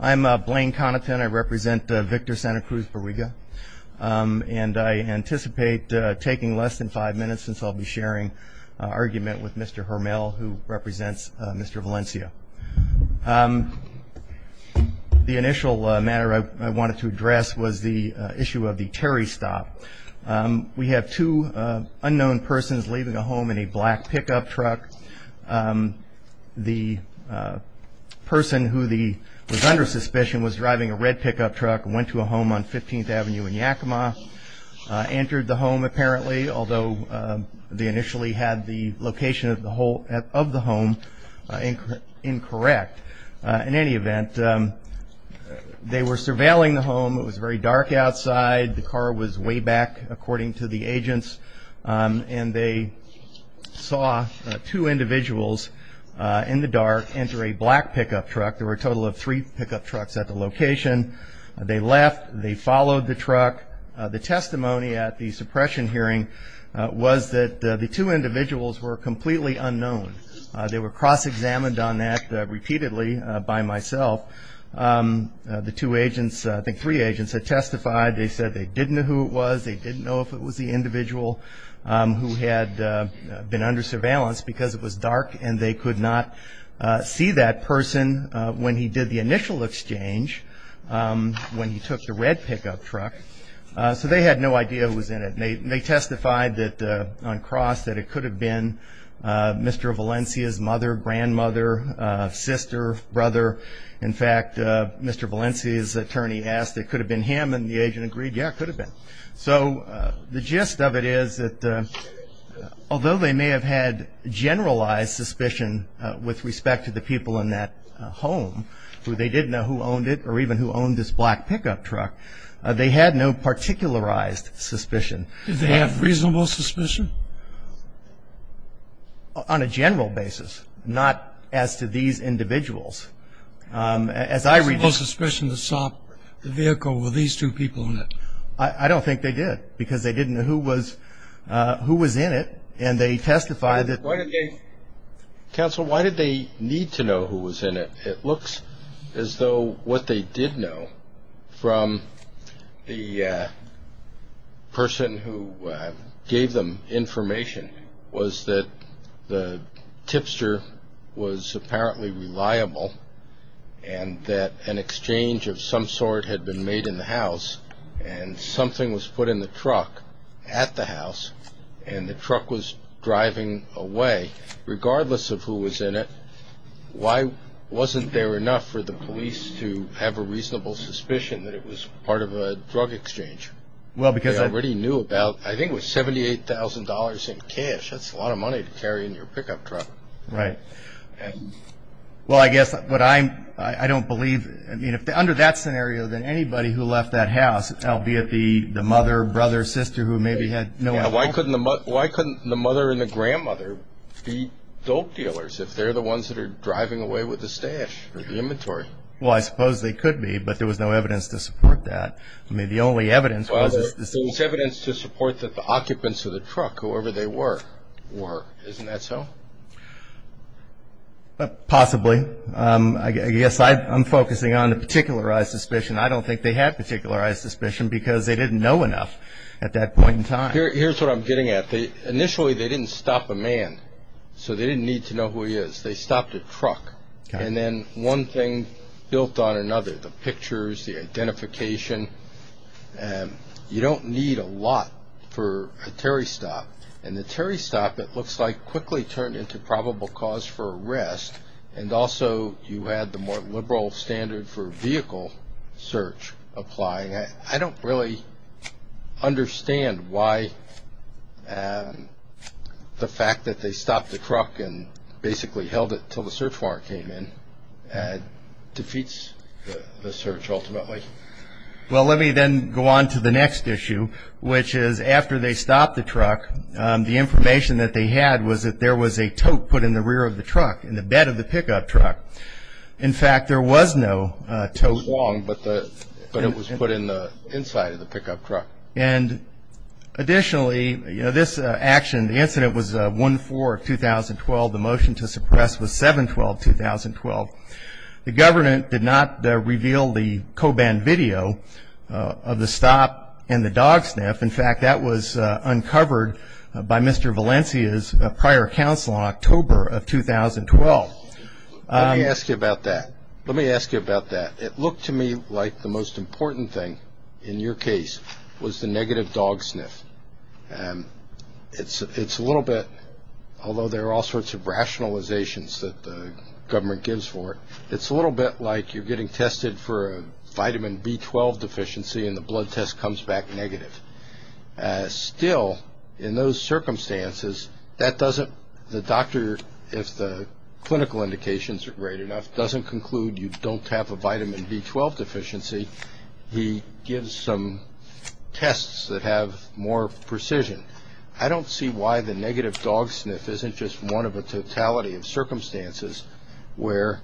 I'm Blaine Connaughton. I represent Victor Santa Cruz Barriga and I anticipate taking less than five minutes since I'll be sharing argument with Mr. Hermel who represents Mr. Valencia. The initial matter I wanted to address was the issue of the Terry stop. We have two unknown persons leaving a home in a black pickup truck. The person who was under suspicion was driving a red pickup truck, went to a home on 15th Avenue in Yakima, entered the home apparently, although they initially had the location of the home incorrect. In any event, they were surveilling the home. It was very dark outside. The car was way back according to the agents and they saw two individuals in the dark enter a black pickup truck. There were a total of three pickup trucks at the location. They left. They followed the truck. The testimony at the suppression hearing was that the two individuals were completely unknown. They were cross-examined on that repeatedly by myself. The two agents, I think three agents, had testified. They said they didn't know who it was. They didn't know if it was the individual who had been under surveillance because it was dark and they could not see that person when he did the initial exchange when he took the red pickup truck. They had no idea who was in it. They testified on cross that it could have been Mr. Valencia's mother, grandmother, sister, brother. In fact, Mr. Valencia's attorney asked if it could have been him and the agent agreed, yeah, it could have been. So the gist of it is that although they may have had generalized suspicion with respect to the people in that home who they did know who owned it or even who owned this black pickup truck, they had no particularized suspicion. Did they have reasonable suspicion? On a general basis, not as to these individuals. Reasonable suspicion to stop the vehicle with these two people in it. I don't think they did because they didn't know who was in it and they testified that. Counsel, why did they need to know who was in it? Regardless of who was in it, why wasn't there enough for the police to have a reasonable suspicion that it was part of a drug exchange? Well, because I already knew about, I think it was $78,000 in cash. That's a lot of money to carry in your pickup truck. Right. Well, I guess what I'm, I don't believe, I mean, under that scenario than anybody who left that house, albeit the mother, brother, sister who maybe had no idea. Now, why couldn't the mother and the grandmother be dope dealers if they're the ones that are driving away with the stash or the inventory? Well, I suppose they could be, but there was no evidence to support that. I mean, the only evidence was this. Well, there's evidence to support that the occupants of the truck, whoever they were, were. Isn't that so? Possibly. I guess I'm focusing on the particularized suspicion. I don't think they had particularized suspicion because they didn't know enough at that point in time. Here's what I'm getting at. Initially, they didn't stop a man, so they didn't need to know who he is. They stopped a truck, and then one thing built on another, the pictures, the identification. You don't need a lot for a Terry stop, and the Terry stop, it looks like, quickly turned into probable cause for arrest, and also you had the more liberal standard for vehicle search applying. I don't really understand why the fact that they stopped the truck and basically held it until the search warrant came in defeats the search ultimately. Well, let me then go on to the next issue, which is after they stopped the truck, the information that they had was that there was a tote put in the rear of the truck, in the bed of the pickup truck. In fact, there was no tote. It was long, but it was put in the inside of the pickup truck. Additionally, this action, the incident was 1-4-2012. The motion to suppress was 7-12-2012. The government did not reveal the co-banned video of the stop and the dog sniff. In fact, that was uncovered by Mr. Valencia's prior counsel in October of 2012. Let me ask you about that. Let me ask you about that. It looked to me like the most important thing in your case was the negative dog sniff. It's a little bit, although there are all sorts of rationalizations that the government gives for it, it's a little bit like you're getting tested for a vitamin B12 deficiency and the blood test comes back negative. Still, in those circumstances, that doesn't, the doctor, if the clinical indications are great enough, doesn't conclude you don't have a vitamin B12 deficiency. He gives some tests that have more precision. I don't see why the negative dog sniff isn't just one of a totality of circumstances where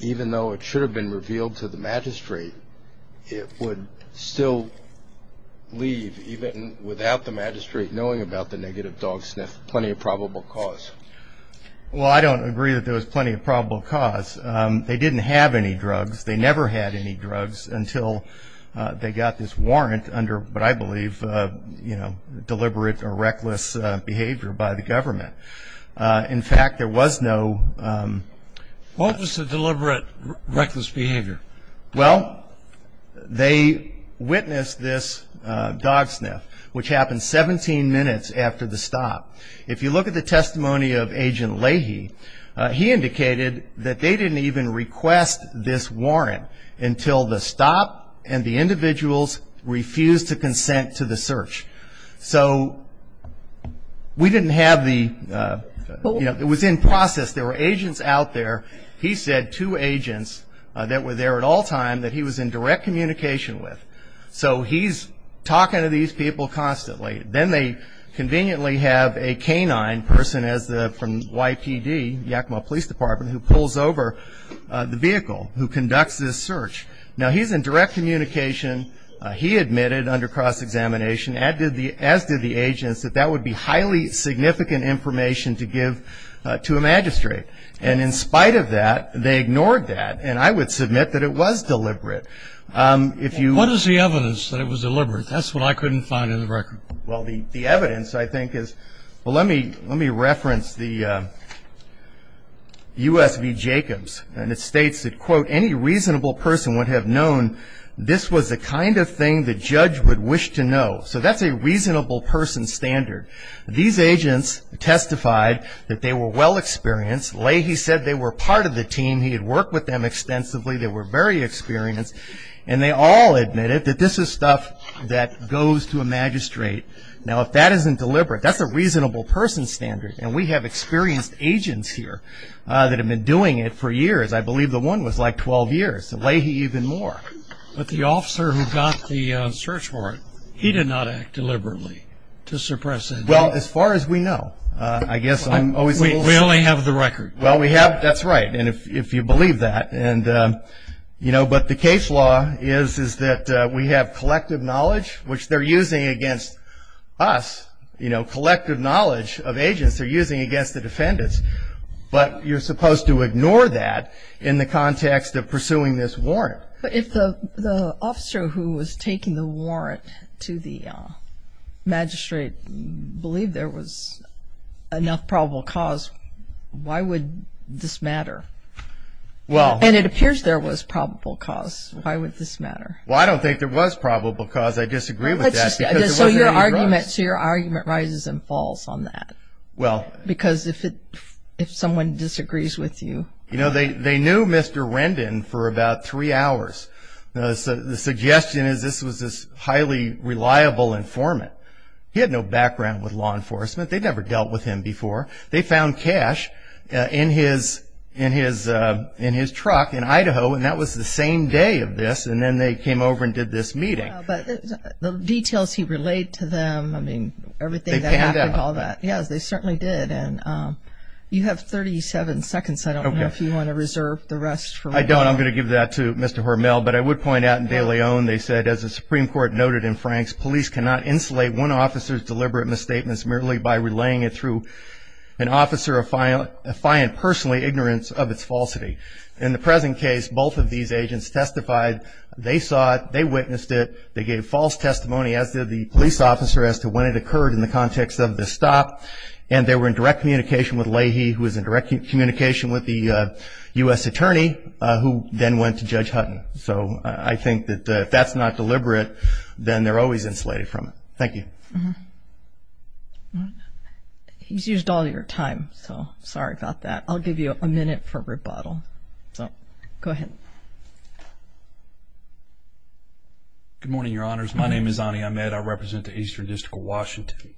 even though it should have been revealed to the magistrate, it would still leave, even without the magistrate knowing about the negative dog sniff, plenty of probable cause. Well, I don't agree that there was plenty of probable cause. They didn't have any drugs. They never had any drugs until they got this warrant under what I believe, you know, deliberate or reckless behavior by the government. In fact, there was no- What was the deliberate, reckless behavior? Well, they witnessed this dog sniff, which happened 17 minutes after the stop. If you look at the testimony of Agent Leahy, he indicated that they didn't even request this warrant until the stop and the individuals refused to consent to the search. So we didn't have the, you know, it was in process. There were agents out there. He said two agents that were there at all times that he was in direct communication with. So he's talking to these people constantly. Then they conveniently have a canine person from YPD, Yakima Police Department, who pulls over the vehicle, who conducts this search. Now, he's in direct communication. He admitted under cross-examination, as did the agents, that that would be highly significant information to give to a magistrate. And in spite of that, they ignored that. And I would submit that it was deliberate. If you- What is the evidence that it was deliberate? That's what I couldn't find in the record. Well, the evidence, I think, is- Well, let me reference the U.S. v. Jacobs. And it states that, quote, any reasonable person would have known this was the kind of thing the judge would wish to know. So that's a reasonable person standard. These agents testified that they were well-experienced. Leahy said they were part of the team. He had worked with them extensively. They were very experienced. And they all admitted that this is stuff that goes to a magistrate. Now, if that isn't deliberate, that's a reasonable person standard. And we have experienced agents here that have been doing it for years. I believe the one was like 12 years, Leahy even more. But the officer who got the search warrant, he did not act deliberately to suppress it. Well, as far as we know, I guess I'm always- We only have the record. Well, we have-that's right, if you believe that. But the case law is that we have collective knowledge, which they're using against us, collective knowledge of agents they're using against the defendants. But you're supposed to ignore that in the context of pursuing this warrant. But if the officer who was taking the warrant to the magistrate believed there was enough probable cause, why would this matter? And it appears there was probable cause. Why would this matter? Well, I don't think there was probable cause. I disagree with that. So your argument rises and falls on that. Well- Because if someone disagrees with you- You know, they knew Mr. Rendon for about three hours. The suggestion is this was this highly reliable informant. He had no background with law enforcement. They'd never dealt with him before. They found cash in his truck in Idaho, and that was the same day of this, and then they came over and did this meeting. But the details he relayed to them, I mean, everything that happened, all that. They panned out. Yes, they certainly did. You have 37 seconds. I don't know if you want to reserve the rest for- I don't. I'm going to give that to Mr. Hormel. But I would point out in De Leon, they said, as the Supreme Court noted in Frank's, police cannot insulate one officer's deliberate misstatements merely by relaying it through an officer affiant personally ignorant of its falsity. In the present case, both of these agents testified they saw it, they witnessed it, they gave false testimony as did the police officer as to when it occurred in the context of the stop, and they were in direct communication with Leahy, who was in direct communication with the U.S. attorney, who then went to Judge Hutton. So I think that if that's not deliberate, then they're always insulated from it. Thank you. He's used all your time, so sorry about that. I'll give you a minute for rebuttal. So go ahead. Good morning, Your Honors. My name is Ani Ahmed. I represent the Eastern District of Washington.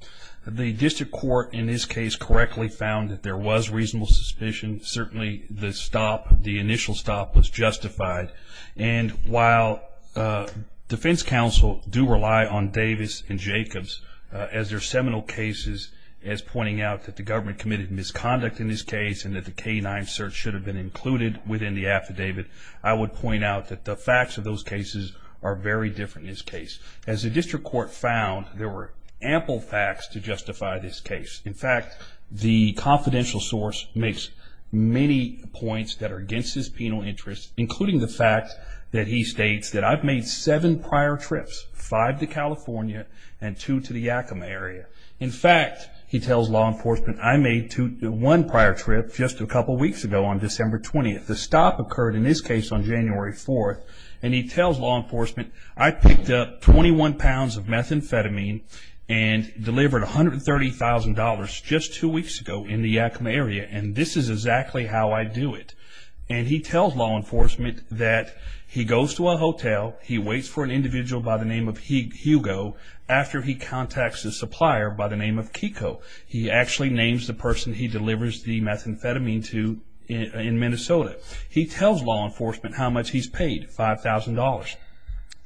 The district court in this case correctly found that there was reasonable suspicion. Certainly the stop, the initial stop, was justified. And while defense counsel do rely on Davis and Jacobs as their seminal cases, as pointing out that the government committed misconduct in this case and that the canine search should have been included within the affidavit, I would point out that the facts of those cases are very different in this case. As the district court found, there were ample facts to justify this case. In fact, the confidential source makes many points that are against his penal interest, including the fact that he states that, I've made seven prior trips, five to California and two to the Yakima area. In fact, he tells law enforcement, I made one prior trip just a couple weeks ago on December 20th. The stop occurred, in this case, on January 4th. And he tells law enforcement, I picked up 21 pounds of methamphetamine and delivered $130,000 just two weeks ago in the Yakima area, and this is exactly how I do it. And he tells law enforcement that he goes to a hotel, he waits for an individual by the name of Hugo after he contacts a supplier by the name of Kiko. He actually names the person he delivers the methamphetamine to in Minnesota. He tells law enforcement how much he's paid, $5,000.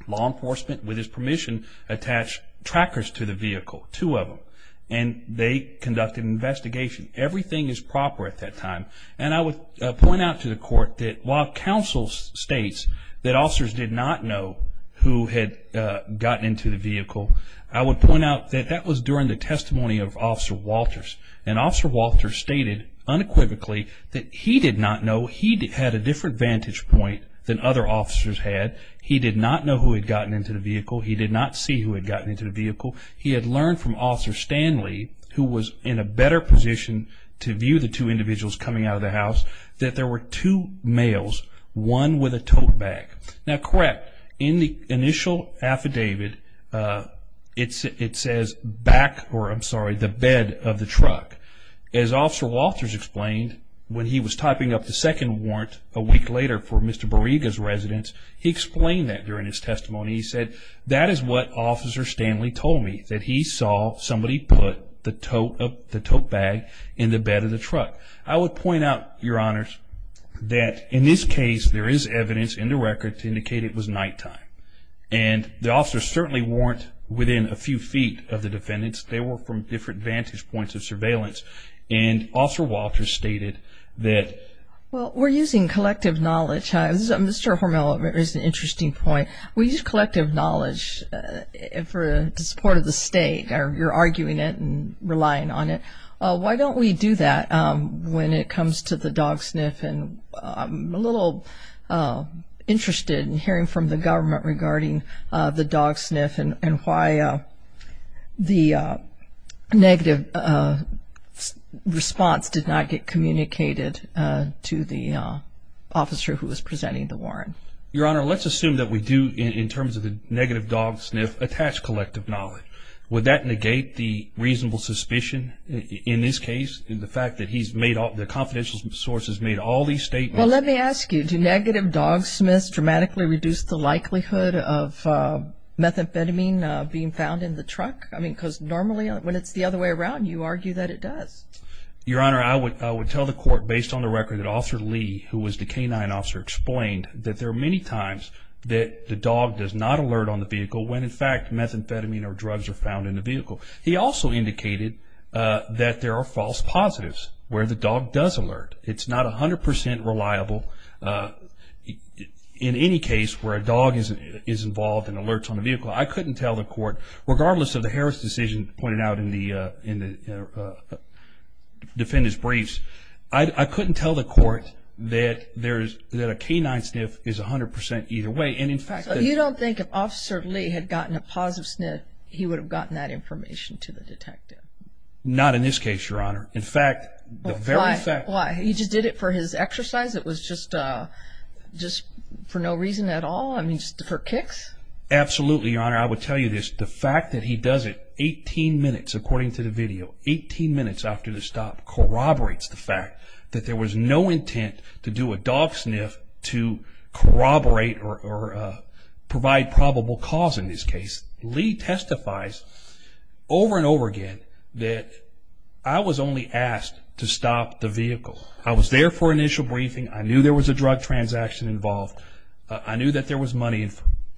Law enforcement, with his permission, attached trackers to the vehicle, two of them. And they conducted an investigation. Everything is proper at that time. And I would point out to the court that while counsel states that officers did not know who had gotten into the vehicle, I would point out that that was during the testimony of Officer Walters. And Officer Walters stated unequivocally that he did not know. He had a different vantage point than other officers had. He did not know who had gotten into the vehicle. He did not see who had gotten into the vehicle. He had learned from Officer Stanley, who was in a better position to view the two individuals coming out of the house, that there were two males, one with a tote bag. Now, correct, in the initial affidavit, it says, back, or I'm sorry, the bed of the truck. As Officer Walters explained, when he was typing up the second warrant a week later for Mr. Bariga's residence, he explained that during his testimony. He said, that is what Officer Stanley told me, that he saw somebody put the tote bag in the bed of the truck. I would point out, Your Honors, that in this case, there is evidence in the record to indicate it was nighttime. And the officers certainly weren't within a few feet of the defendants. They were from different vantage points of surveillance. And Officer Walters stated that. Well, we're using collective knowledge. Mr. Hormel, there's an interesting point. We use collective knowledge for the support of the state, or you're arguing it and relying on it. Why don't we do that when it comes to the dog sniff? And I'm a little interested in hearing from the government regarding the dog sniff and why the negative response did not get communicated to the officer who was presenting the warrant. Your Honor, let's assume that we do, in terms of the negative dog sniff, attach collective knowledge. Would that negate the reasonable suspicion in this case, in the fact that the confidential sources made all these statements? Well, let me ask you, do negative dog sniffs dramatically reduce the likelihood of methamphetamine being found in the truck? I mean, because normally, when it's the other way around, you argue that it does. Your Honor, I would tell the court, based on the record that Officer Lee, who was the canine officer, explained that there are many times that the dog does not alert on the vehicle when, in fact, methamphetamine or drugs are found in the vehicle. He also indicated that there are false positives where the dog does alert. It's not 100% reliable in any case where a dog is involved and alerts on the vehicle. I couldn't tell the court, regardless of the Harris decision pointed out in the defendant's briefs, I couldn't tell the court that a canine sniff is 100% either way. So you don't think if Officer Lee had gotten a positive sniff, he would have gotten that information to the detective? Not in this case, Your Honor. Why? He just did it for his exercise? It was just for no reason at all? I mean, just for kicks? Absolutely, Your Honor. I would tell you this, the fact that he does it 18 minutes, according to the video, 18 minutes after the stop corroborates the fact that there was no intent to do a dog sniff to corroborate or provide probable cause in this case. Lee testifies over and over again that I was only asked to stop the vehicle. I was there for initial briefing. I knew there was a drug transaction involved. I knew that there was money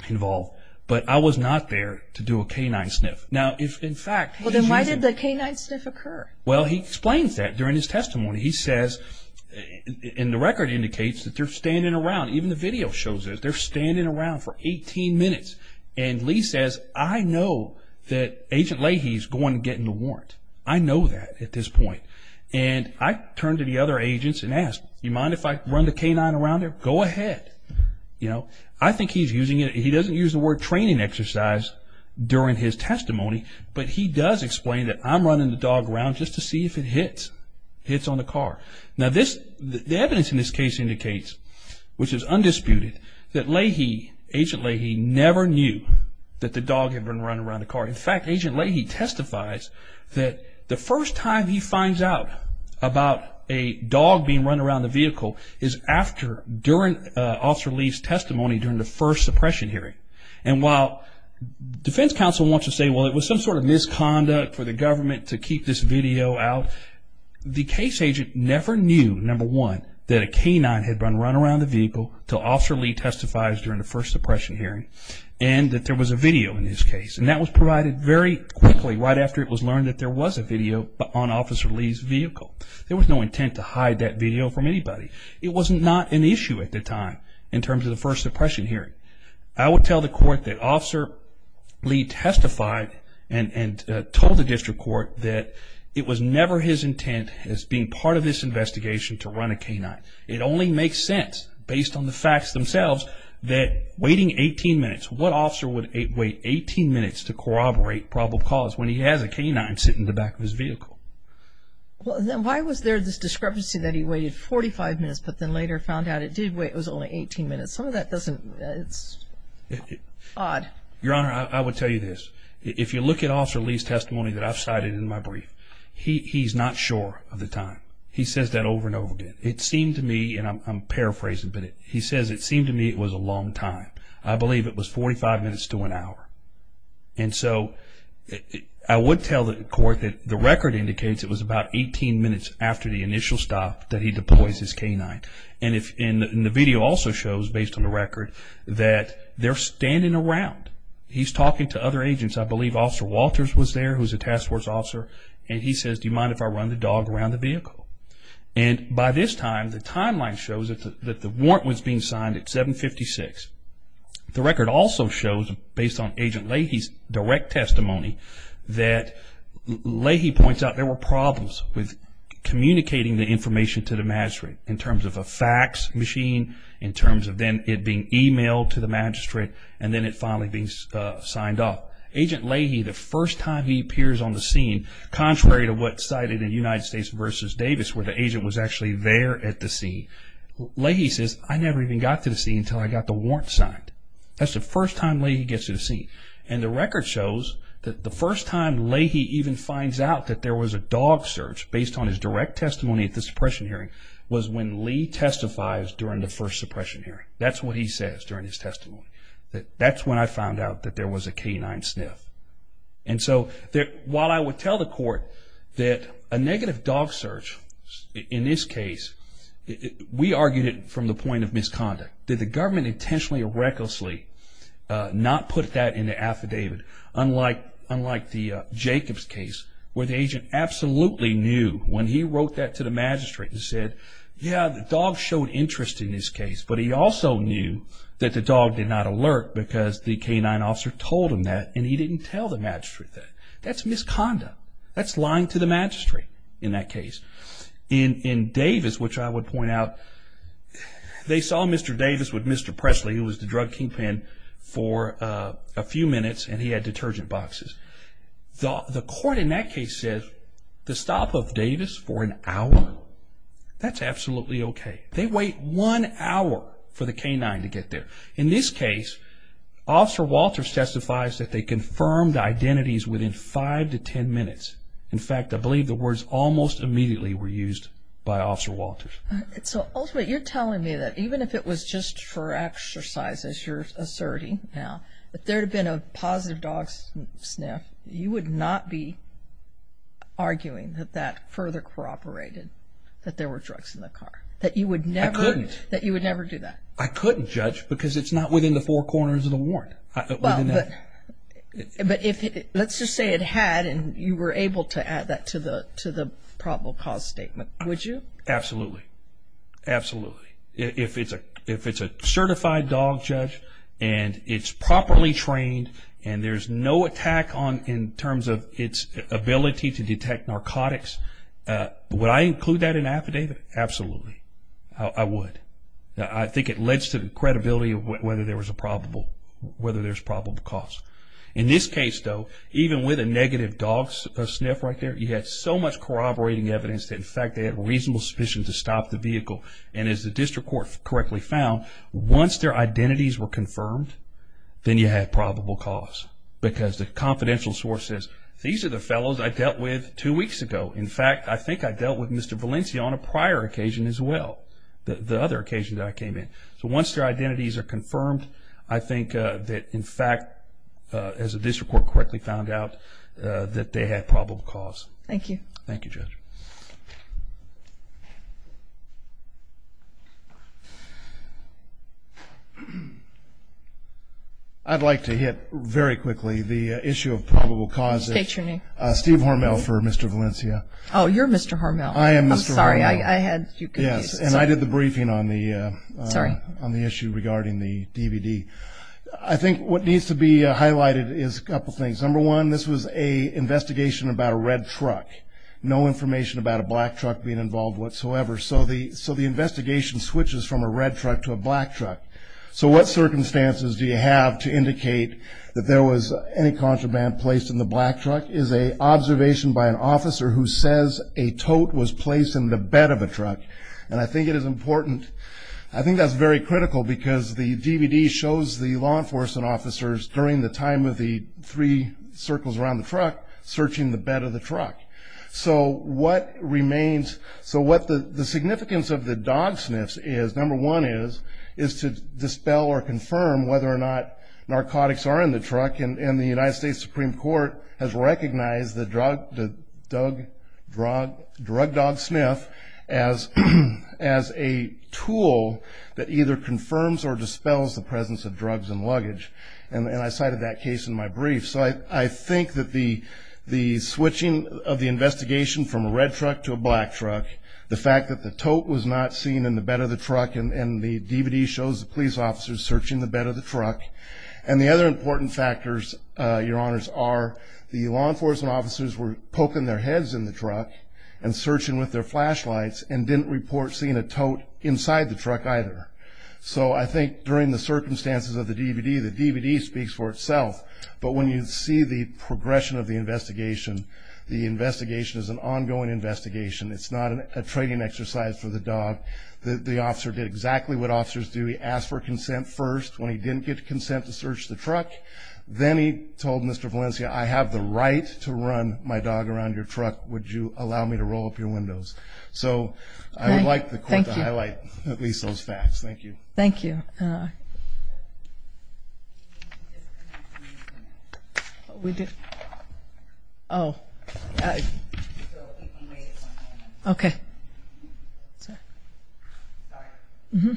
involved, but I was not there to do a canine sniff. Now, if, in fact, he's using... Well, then why did the canine sniff occur? Well, he explains that during his testimony. He says, and the record indicates that they're standing around. Even the video shows it. They're standing around for 18 minutes. And Lee says, I know that Agent Leahy is going to get in the warrant. I know that at this point. And I turned to the other agents and asked, do you mind if I run the canine around there? Go ahead. I think he's using it. He doesn't use the word training exercise during his testimony, but he does explain that I'm running the dog around just to see if it hits. It hits on the car. Now, the evidence in this case indicates, which is undisputed, that Agent Leahy never knew that the dog had been running around the car. In fact, Agent Leahy testifies that the first time he finds out about a dog being run around the vehicle is during Officer Lee's testimony during the first suppression hearing. And while defense counsel wants to say, well, it was some sort of misconduct for the government to keep this video out, the case agent never knew, number one, that a canine had been run around the vehicle until Officer Lee testifies during the first suppression hearing and that there was a video in his case. And that was provided very quickly right after it was learned that there was a video on Officer Lee's vehicle. There was no intent to hide that video from anybody. It was not an issue at the time in terms of the first suppression hearing. I would tell the court that Officer Lee testified and told the district court that it was never his intent as being part of this investigation to run a canine. It only makes sense, based on the facts themselves, that waiting 18 minutes, what officer would wait 18 minutes to corroborate probable cause when he has a canine sitting in the back of his vehicle? Well, then why was there this discrepancy that he waited 45 minutes but then later found out it did wait, it was only 18 minutes? Some of that doesn't, it's odd. Your Honor, I would tell you this. If you look at Officer Lee's testimony that I've cited in my brief, he's not sure of the time. He says that over and over again. It seemed to me, and I'm paraphrasing a bit, he says it seemed to me it was a long time. I believe it was 45 minutes to an hour. And so I would tell the court that the record indicates it was about 18 minutes after the initial stop that he deploys his canine. And the video also shows, based on the record, that they're standing around. He's talking to other agents. I believe Officer Walters was there, who's a task force officer, and he says, do you mind if I run the dog around the vehicle? And by this time, the timeline shows that the warrant was being signed at 7.56. The record also shows, based on Agent Leahy's direct testimony, that Leahy points out there were problems with communicating the information to the magistrate in terms of a fax machine, in terms of then it being emailed to the magistrate, and then it finally being signed off. Agent Leahy, the first time he appears on the scene, contrary to what's cited in United States v. Davis, where the agent was actually there at the scene, Leahy says, I never even got to the scene until I got the warrant signed. That's the first time Leahy gets to the scene. And the record shows that the first time Leahy even finds out that there was a dog search, based on his direct testimony at the suppression hearing, was when Leahy testifies during the first suppression hearing. That's what he says during his testimony. That's when I found out that there was a canine sniff. And so while I would tell the court that a negative dog search, in this case, we argued it from the point of misconduct. Did the government intentionally or recklessly not put that in the affidavit, unlike the Jacobs case, where the agent absolutely knew, when he wrote that to the magistrate and said, yeah, the dog showed interest in this case, but he also knew that the dog did not alert because the canine officer told him that, and he didn't tell the magistrate that. That's misconduct. That's lying to the magistrate in that case. In Davis, which I would point out, they saw Mr. Davis with Mr. Presley, who was the drug kingpin, for a few minutes, and he had detergent boxes. The court in that case said the stop of Davis for an hour, that's absolutely okay. They wait one hour for the canine to get there. In this case, Officer Walters testifies that they confirmed identities within five to ten minutes. In fact, I believe the words almost immediately were used by Officer Walters. So ultimately, you're telling me that even if it was just for exercise, as you're asserting now, if there had been a positive dog sniff, you would not be arguing that that further corroborated that there were drugs in the car, that you would never do that? I couldn't judge because it's not within the four corners of the warrant. But let's just say it had, and you were able to add that to the probable cause statement, would you? Absolutely. Absolutely. If it's a certified dog judge and it's properly trained and there's no attack in terms of its ability to detect narcotics, would I include that in affidavit? Absolutely. I would. I think it lends to the credibility of whether there was a probable cause. In this case, though, even with a negative dog sniff right there, you had so much corroborating evidence that, in fact, they had reasonable suspicion to stop the vehicle. And as the district court correctly found, once their identities were confirmed, then you had probable cause because the confidential source says, these are the fellows I dealt with two weeks ago. In fact, I think I dealt with Mr. Valencia on a prior occasion as well, the other occasion that I came in. So once their identities are confirmed, I think that, in fact, as the district court correctly found out, that they had probable cause. Thank you. Thank you, Judge. I'd like to hit very quickly the issue of probable cause. State your name. Steve Hormel for Mr. Valencia. Oh, you're Mr. Hormel. I am Mr. Hormel. I'm sorry, I had you confused. Yes, and I did the briefing on the issue regarding the DVD. I think what needs to be highlighted is a couple things. Number one, this was an investigation about a red truck, no information about a black truck being involved whatsoever. So the investigation switches from a red truck to a black truck. So what circumstances do you have to indicate that there was any contraband placed in the black truck? It's an observation by an officer who says a tote was placed in the bed of a truck. And I think it is important. I think that's very critical because the DVD shows the law enforcement officers during the time of the three circles around the truck searching the bed of the truck. So what remains, so what the significance of the dog sniffs is, number one is, is to dispel or confirm whether or not narcotics are in the truck. And the United States Supreme Court has recognized the drug dog sniff as a tool that either confirms or dispels the presence of drugs in luggage. And I cited that case in my brief. So I think that the switching of the investigation from a red truck to a black truck, the fact that the tote was not seen in the bed of the truck, and the DVD shows the police officers searching the bed of the truck, and the other important factors, Your Honors, are the law enforcement officers were poking their heads in the truck and searching with their flashlights and didn't report seeing a tote inside the truck either. So I think during the circumstances of the DVD, the DVD speaks for itself. But when you see the progression of the investigation, the investigation is an ongoing investigation. It's not a training exercise for the dog. The officer did exactly what officers do. He asked for consent first. When he didn't get consent to search the truck, then he told Mr. Valencia, I have the right to run my dog around your truck. Would you allow me to roll up your windows? So I would like the court to highlight at least those facts. Thank you. Thank you. We did. Oh. Sorry. Mm-hmm.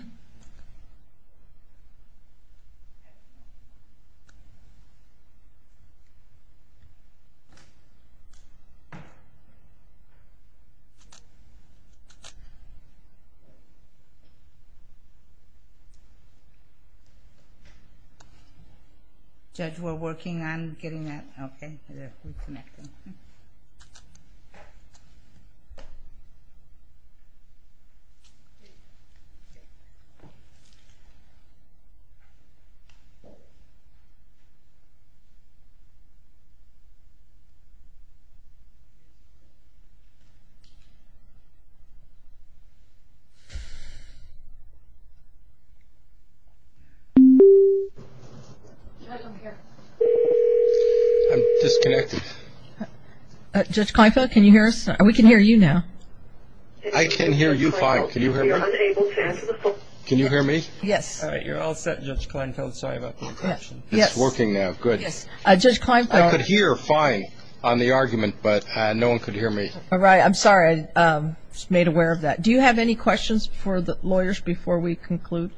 Judge, we're working on getting that. Okay. We're connecting. Judge, I'm here. I'm disconnected. Judge Kleinfeld, can you hear us? We can hear you now. I can hear you fine. Can you hear me? Can you hear me? Yes. All right. You're all set, Judge Kleinfeld. Sorry about the interruption. Yes. It's working now. Good. Judge Kleinfeld. I could hear fine on the argument, but no one could hear me. All right. I'm sorry. I just made aware of that. Do you have any questions for the lawyers before we conclude?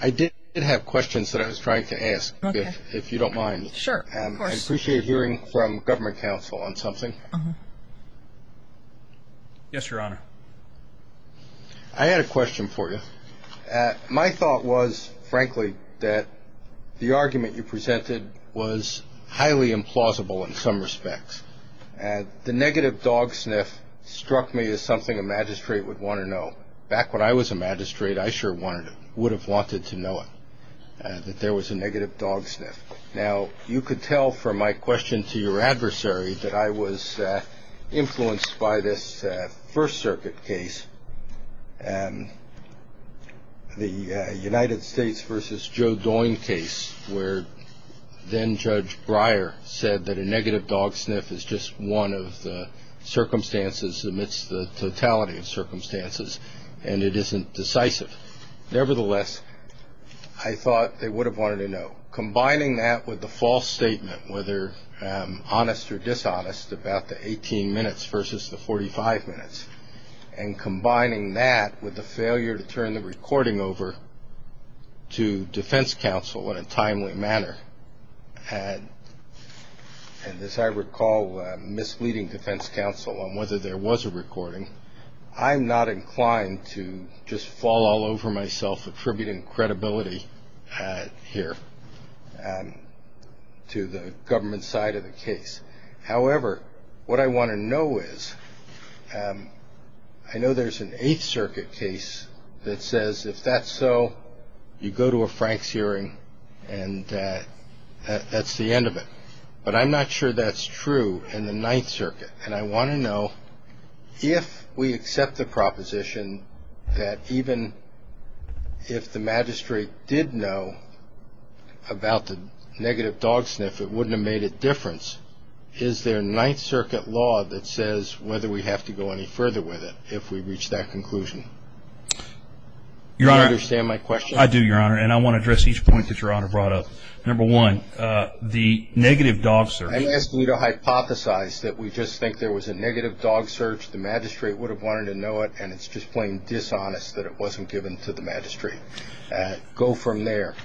I did have questions that I was trying to ask, if you don't mind. Sure. Of course. I appreciate hearing from government counsel on something. Yes, Your Honor. I had a question for you. My thought was, frankly, that the argument you presented was highly implausible in some respects. The negative dog sniff struck me as something a magistrate would want to know. Back when I was a magistrate, I sure would have wanted to know it, that there was a negative dog sniff. Now, you could tell from my question to your adversary that I was influenced by this First Circuit case, the United States versus Joe Doying case, where then-Judge Breyer said that a negative dog sniff is just one of the circumstances, amidst the totality of circumstances, and it isn't decisive. Nevertheless, I thought they would have wanted to know. Combining that with the false statement, whether honest or dishonest, about the 18 minutes versus the 45 minutes, and combining that with the failure to turn the recording over to defense counsel in a timely manner, and, as I recall, misleading defense counsel on whether there was a recording, I'm not inclined to just fall all over myself attributing credibility here to the government side of the case. However, what I want to know is, I know there's an Eighth Circuit case that says, if that's so, you go to a Franks hearing, and that's the end of it. But I'm not sure that's true in the Ninth Circuit, and I want to know if we accept the proposition that even if the magistrate did know about the negative dog sniff, it wouldn't have made a difference. Is there a Ninth Circuit law that says whether we have to go any further with it if we reach that conclusion? Do you understand my question? I do, Your Honor, and I want to address each point that Your Honor brought up. Number one, the negative dog search. I'm asking you to hypothesize that we just think there was a negative dog search. The magistrate would have wanted to know it, and it's just plain dishonest that it wasn't given to the magistrate. Go from there.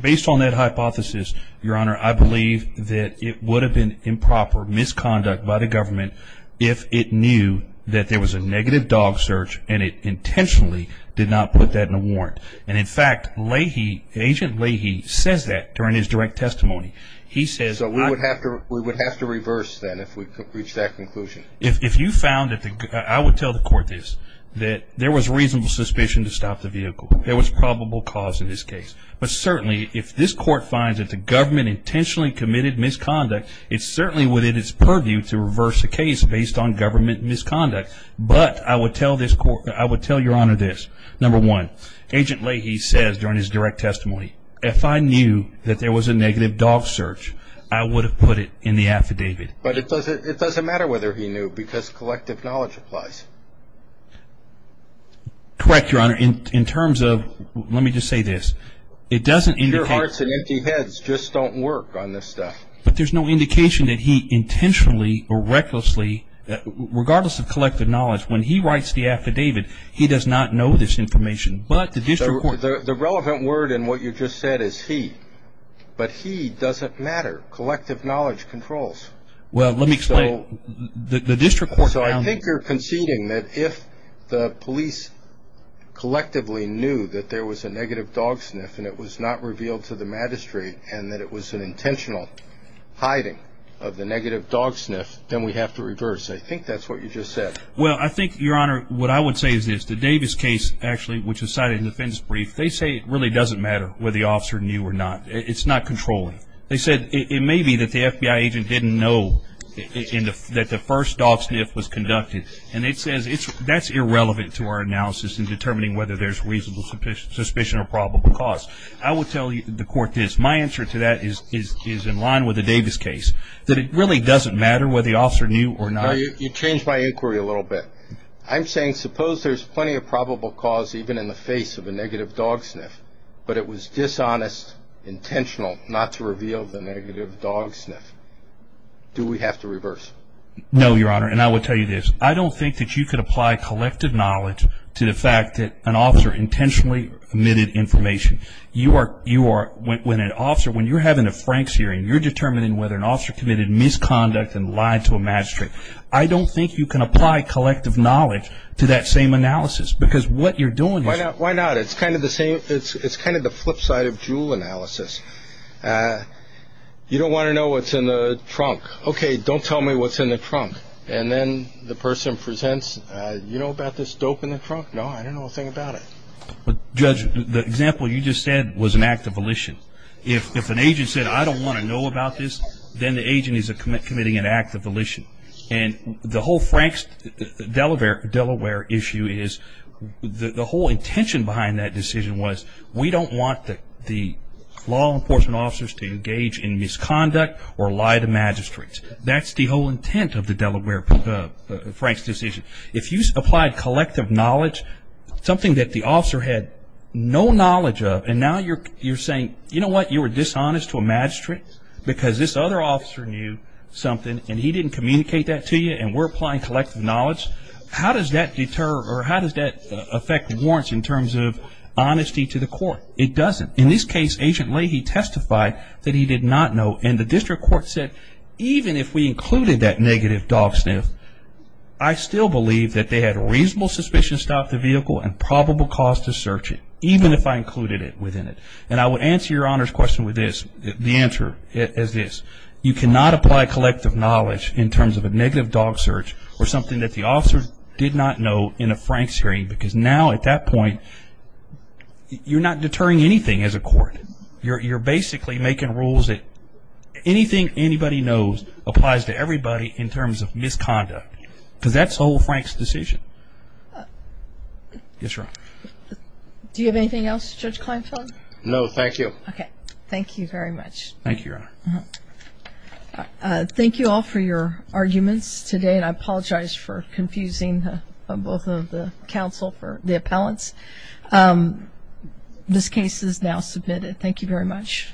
Based on that hypothesis, Your Honor, I believe that it would have been improper misconduct by the government if it knew that there was a negative dog search, and it intentionally did not put that in a warrant. And, in fact, Agent Leahy says that during his direct testimony. So we would have to reverse that if we could reach that conclusion? If you found it, I would tell the court this, that there was reasonable suspicion to stop the vehicle. There was probable cause in this case. But, certainly, if this court finds that the government intentionally committed misconduct, it's certainly within its purview to reverse the case based on government misconduct. But I would tell Your Honor this. Number one, Agent Leahy says during his direct testimony, if I knew that there was a negative dog search, I would have put it in the affidavit. But it doesn't matter whether he knew because collective knowledge applies. Correct, Your Honor. In terms of, let me just say this. It doesn't indicate. Your hearts and empty heads just don't work on this stuff. But there's no indication that he intentionally or recklessly, regardless of collective knowledge, when he writes the affidavit, he does not know this information. But the district court. The relevant word in what you just said is he. But he doesn't matter. Collective knowledge controls. Well, let me explain. The district court found that. So I think you're conceding that if the police collectively knew that there was a negative dog sniff and it was not revealed to the magistrate and that it was an intentional hiding of the negative dog sniff, then we have to reverse. I think that's what you just said. Well, I think, Your Honor, what I would say is this. The Davis case, actually, which is cited in the defendant's brief, they say it really doesn't matter whether the officer knew or not. It's not controlling. They said it may be that the FBI agent didn't know that the first dog sniff was conducted. And it says that's irrelevant to our analysis in determining whether there's reasonable suspicion or probable cause. I will tell the court this. My answer to that is in line with the Davis case, that it really doesn't matter whether the officer knew or not. You changed my inquiry a little bit. I'm saying suppose there's plenty of probable cause even in the face of a negative dog sniff, but it was dishonest, intentional not to reveal the negative dog sniff. Do we have to reverse? No, Your Honor, and I will tell you this. I don't think that you could apply collective knowledge to the fact that an officer intentionally omitted information. You are, when an officer, when you're having a Franks hearing, you're determining whether an officer committed misconduct and lied to a magistrate. I don't think you can apply collective knowledge to that same analysis because what you're doing is. Why not? It's kind of the flip side of Juul analysis. You don't want to know what's in the trunk. Okay, don't tell me what's in the trunk. And then the person presents, you know about this dope in the trunk? No, I don't know a thing about it. Judge, the example you just said was an act of volition. If an agent said, I don't want to know about this, then the agent is committing an act of volition. And the whole Franks Delaware issue is, the whole intention behind that decision was, we don't want the law enforcement officers to engage in misconduct or lie to magistrates. That's the whole intent of the Delaware Franks decision. If you applied collective knowledge, something that the officer had no knowledge of, and now you're saying, you know what, you were dishonest to a magistrate because this other officer knew something and he didn't communicate that to you and we're applying collective knowledge, how does that affect warrants in terms of honesty to the court? It doesn't. In this case, Agent Leahy testified that he did not know, and the district court said, even if we included that negative dog sniff, I still believe that they had reasonable suspicion to stop the vehicle and probable cause to search it, even if I included it within it. And I would answer your Honor's question with this, the answer is this. You cannot apply collective knowledge in terms of a negative dog search or something that the officer did not know in a Franks hearing, because now at that point you're not deterring anything as a court. You're basically making rules that anything anybody knows applies to everybody in terms of misconduct. Because that's the whole Franks decision. Yes, Your Honor. Do you have anything else, Judge Kleinfeld? No, thank you. Okay. Thank you very much. Thank you, Your Honor. Thank you all for your arguments today, and I apologize for confusing both of the counsel for the appellants. This case is now submitted. Thank you very much.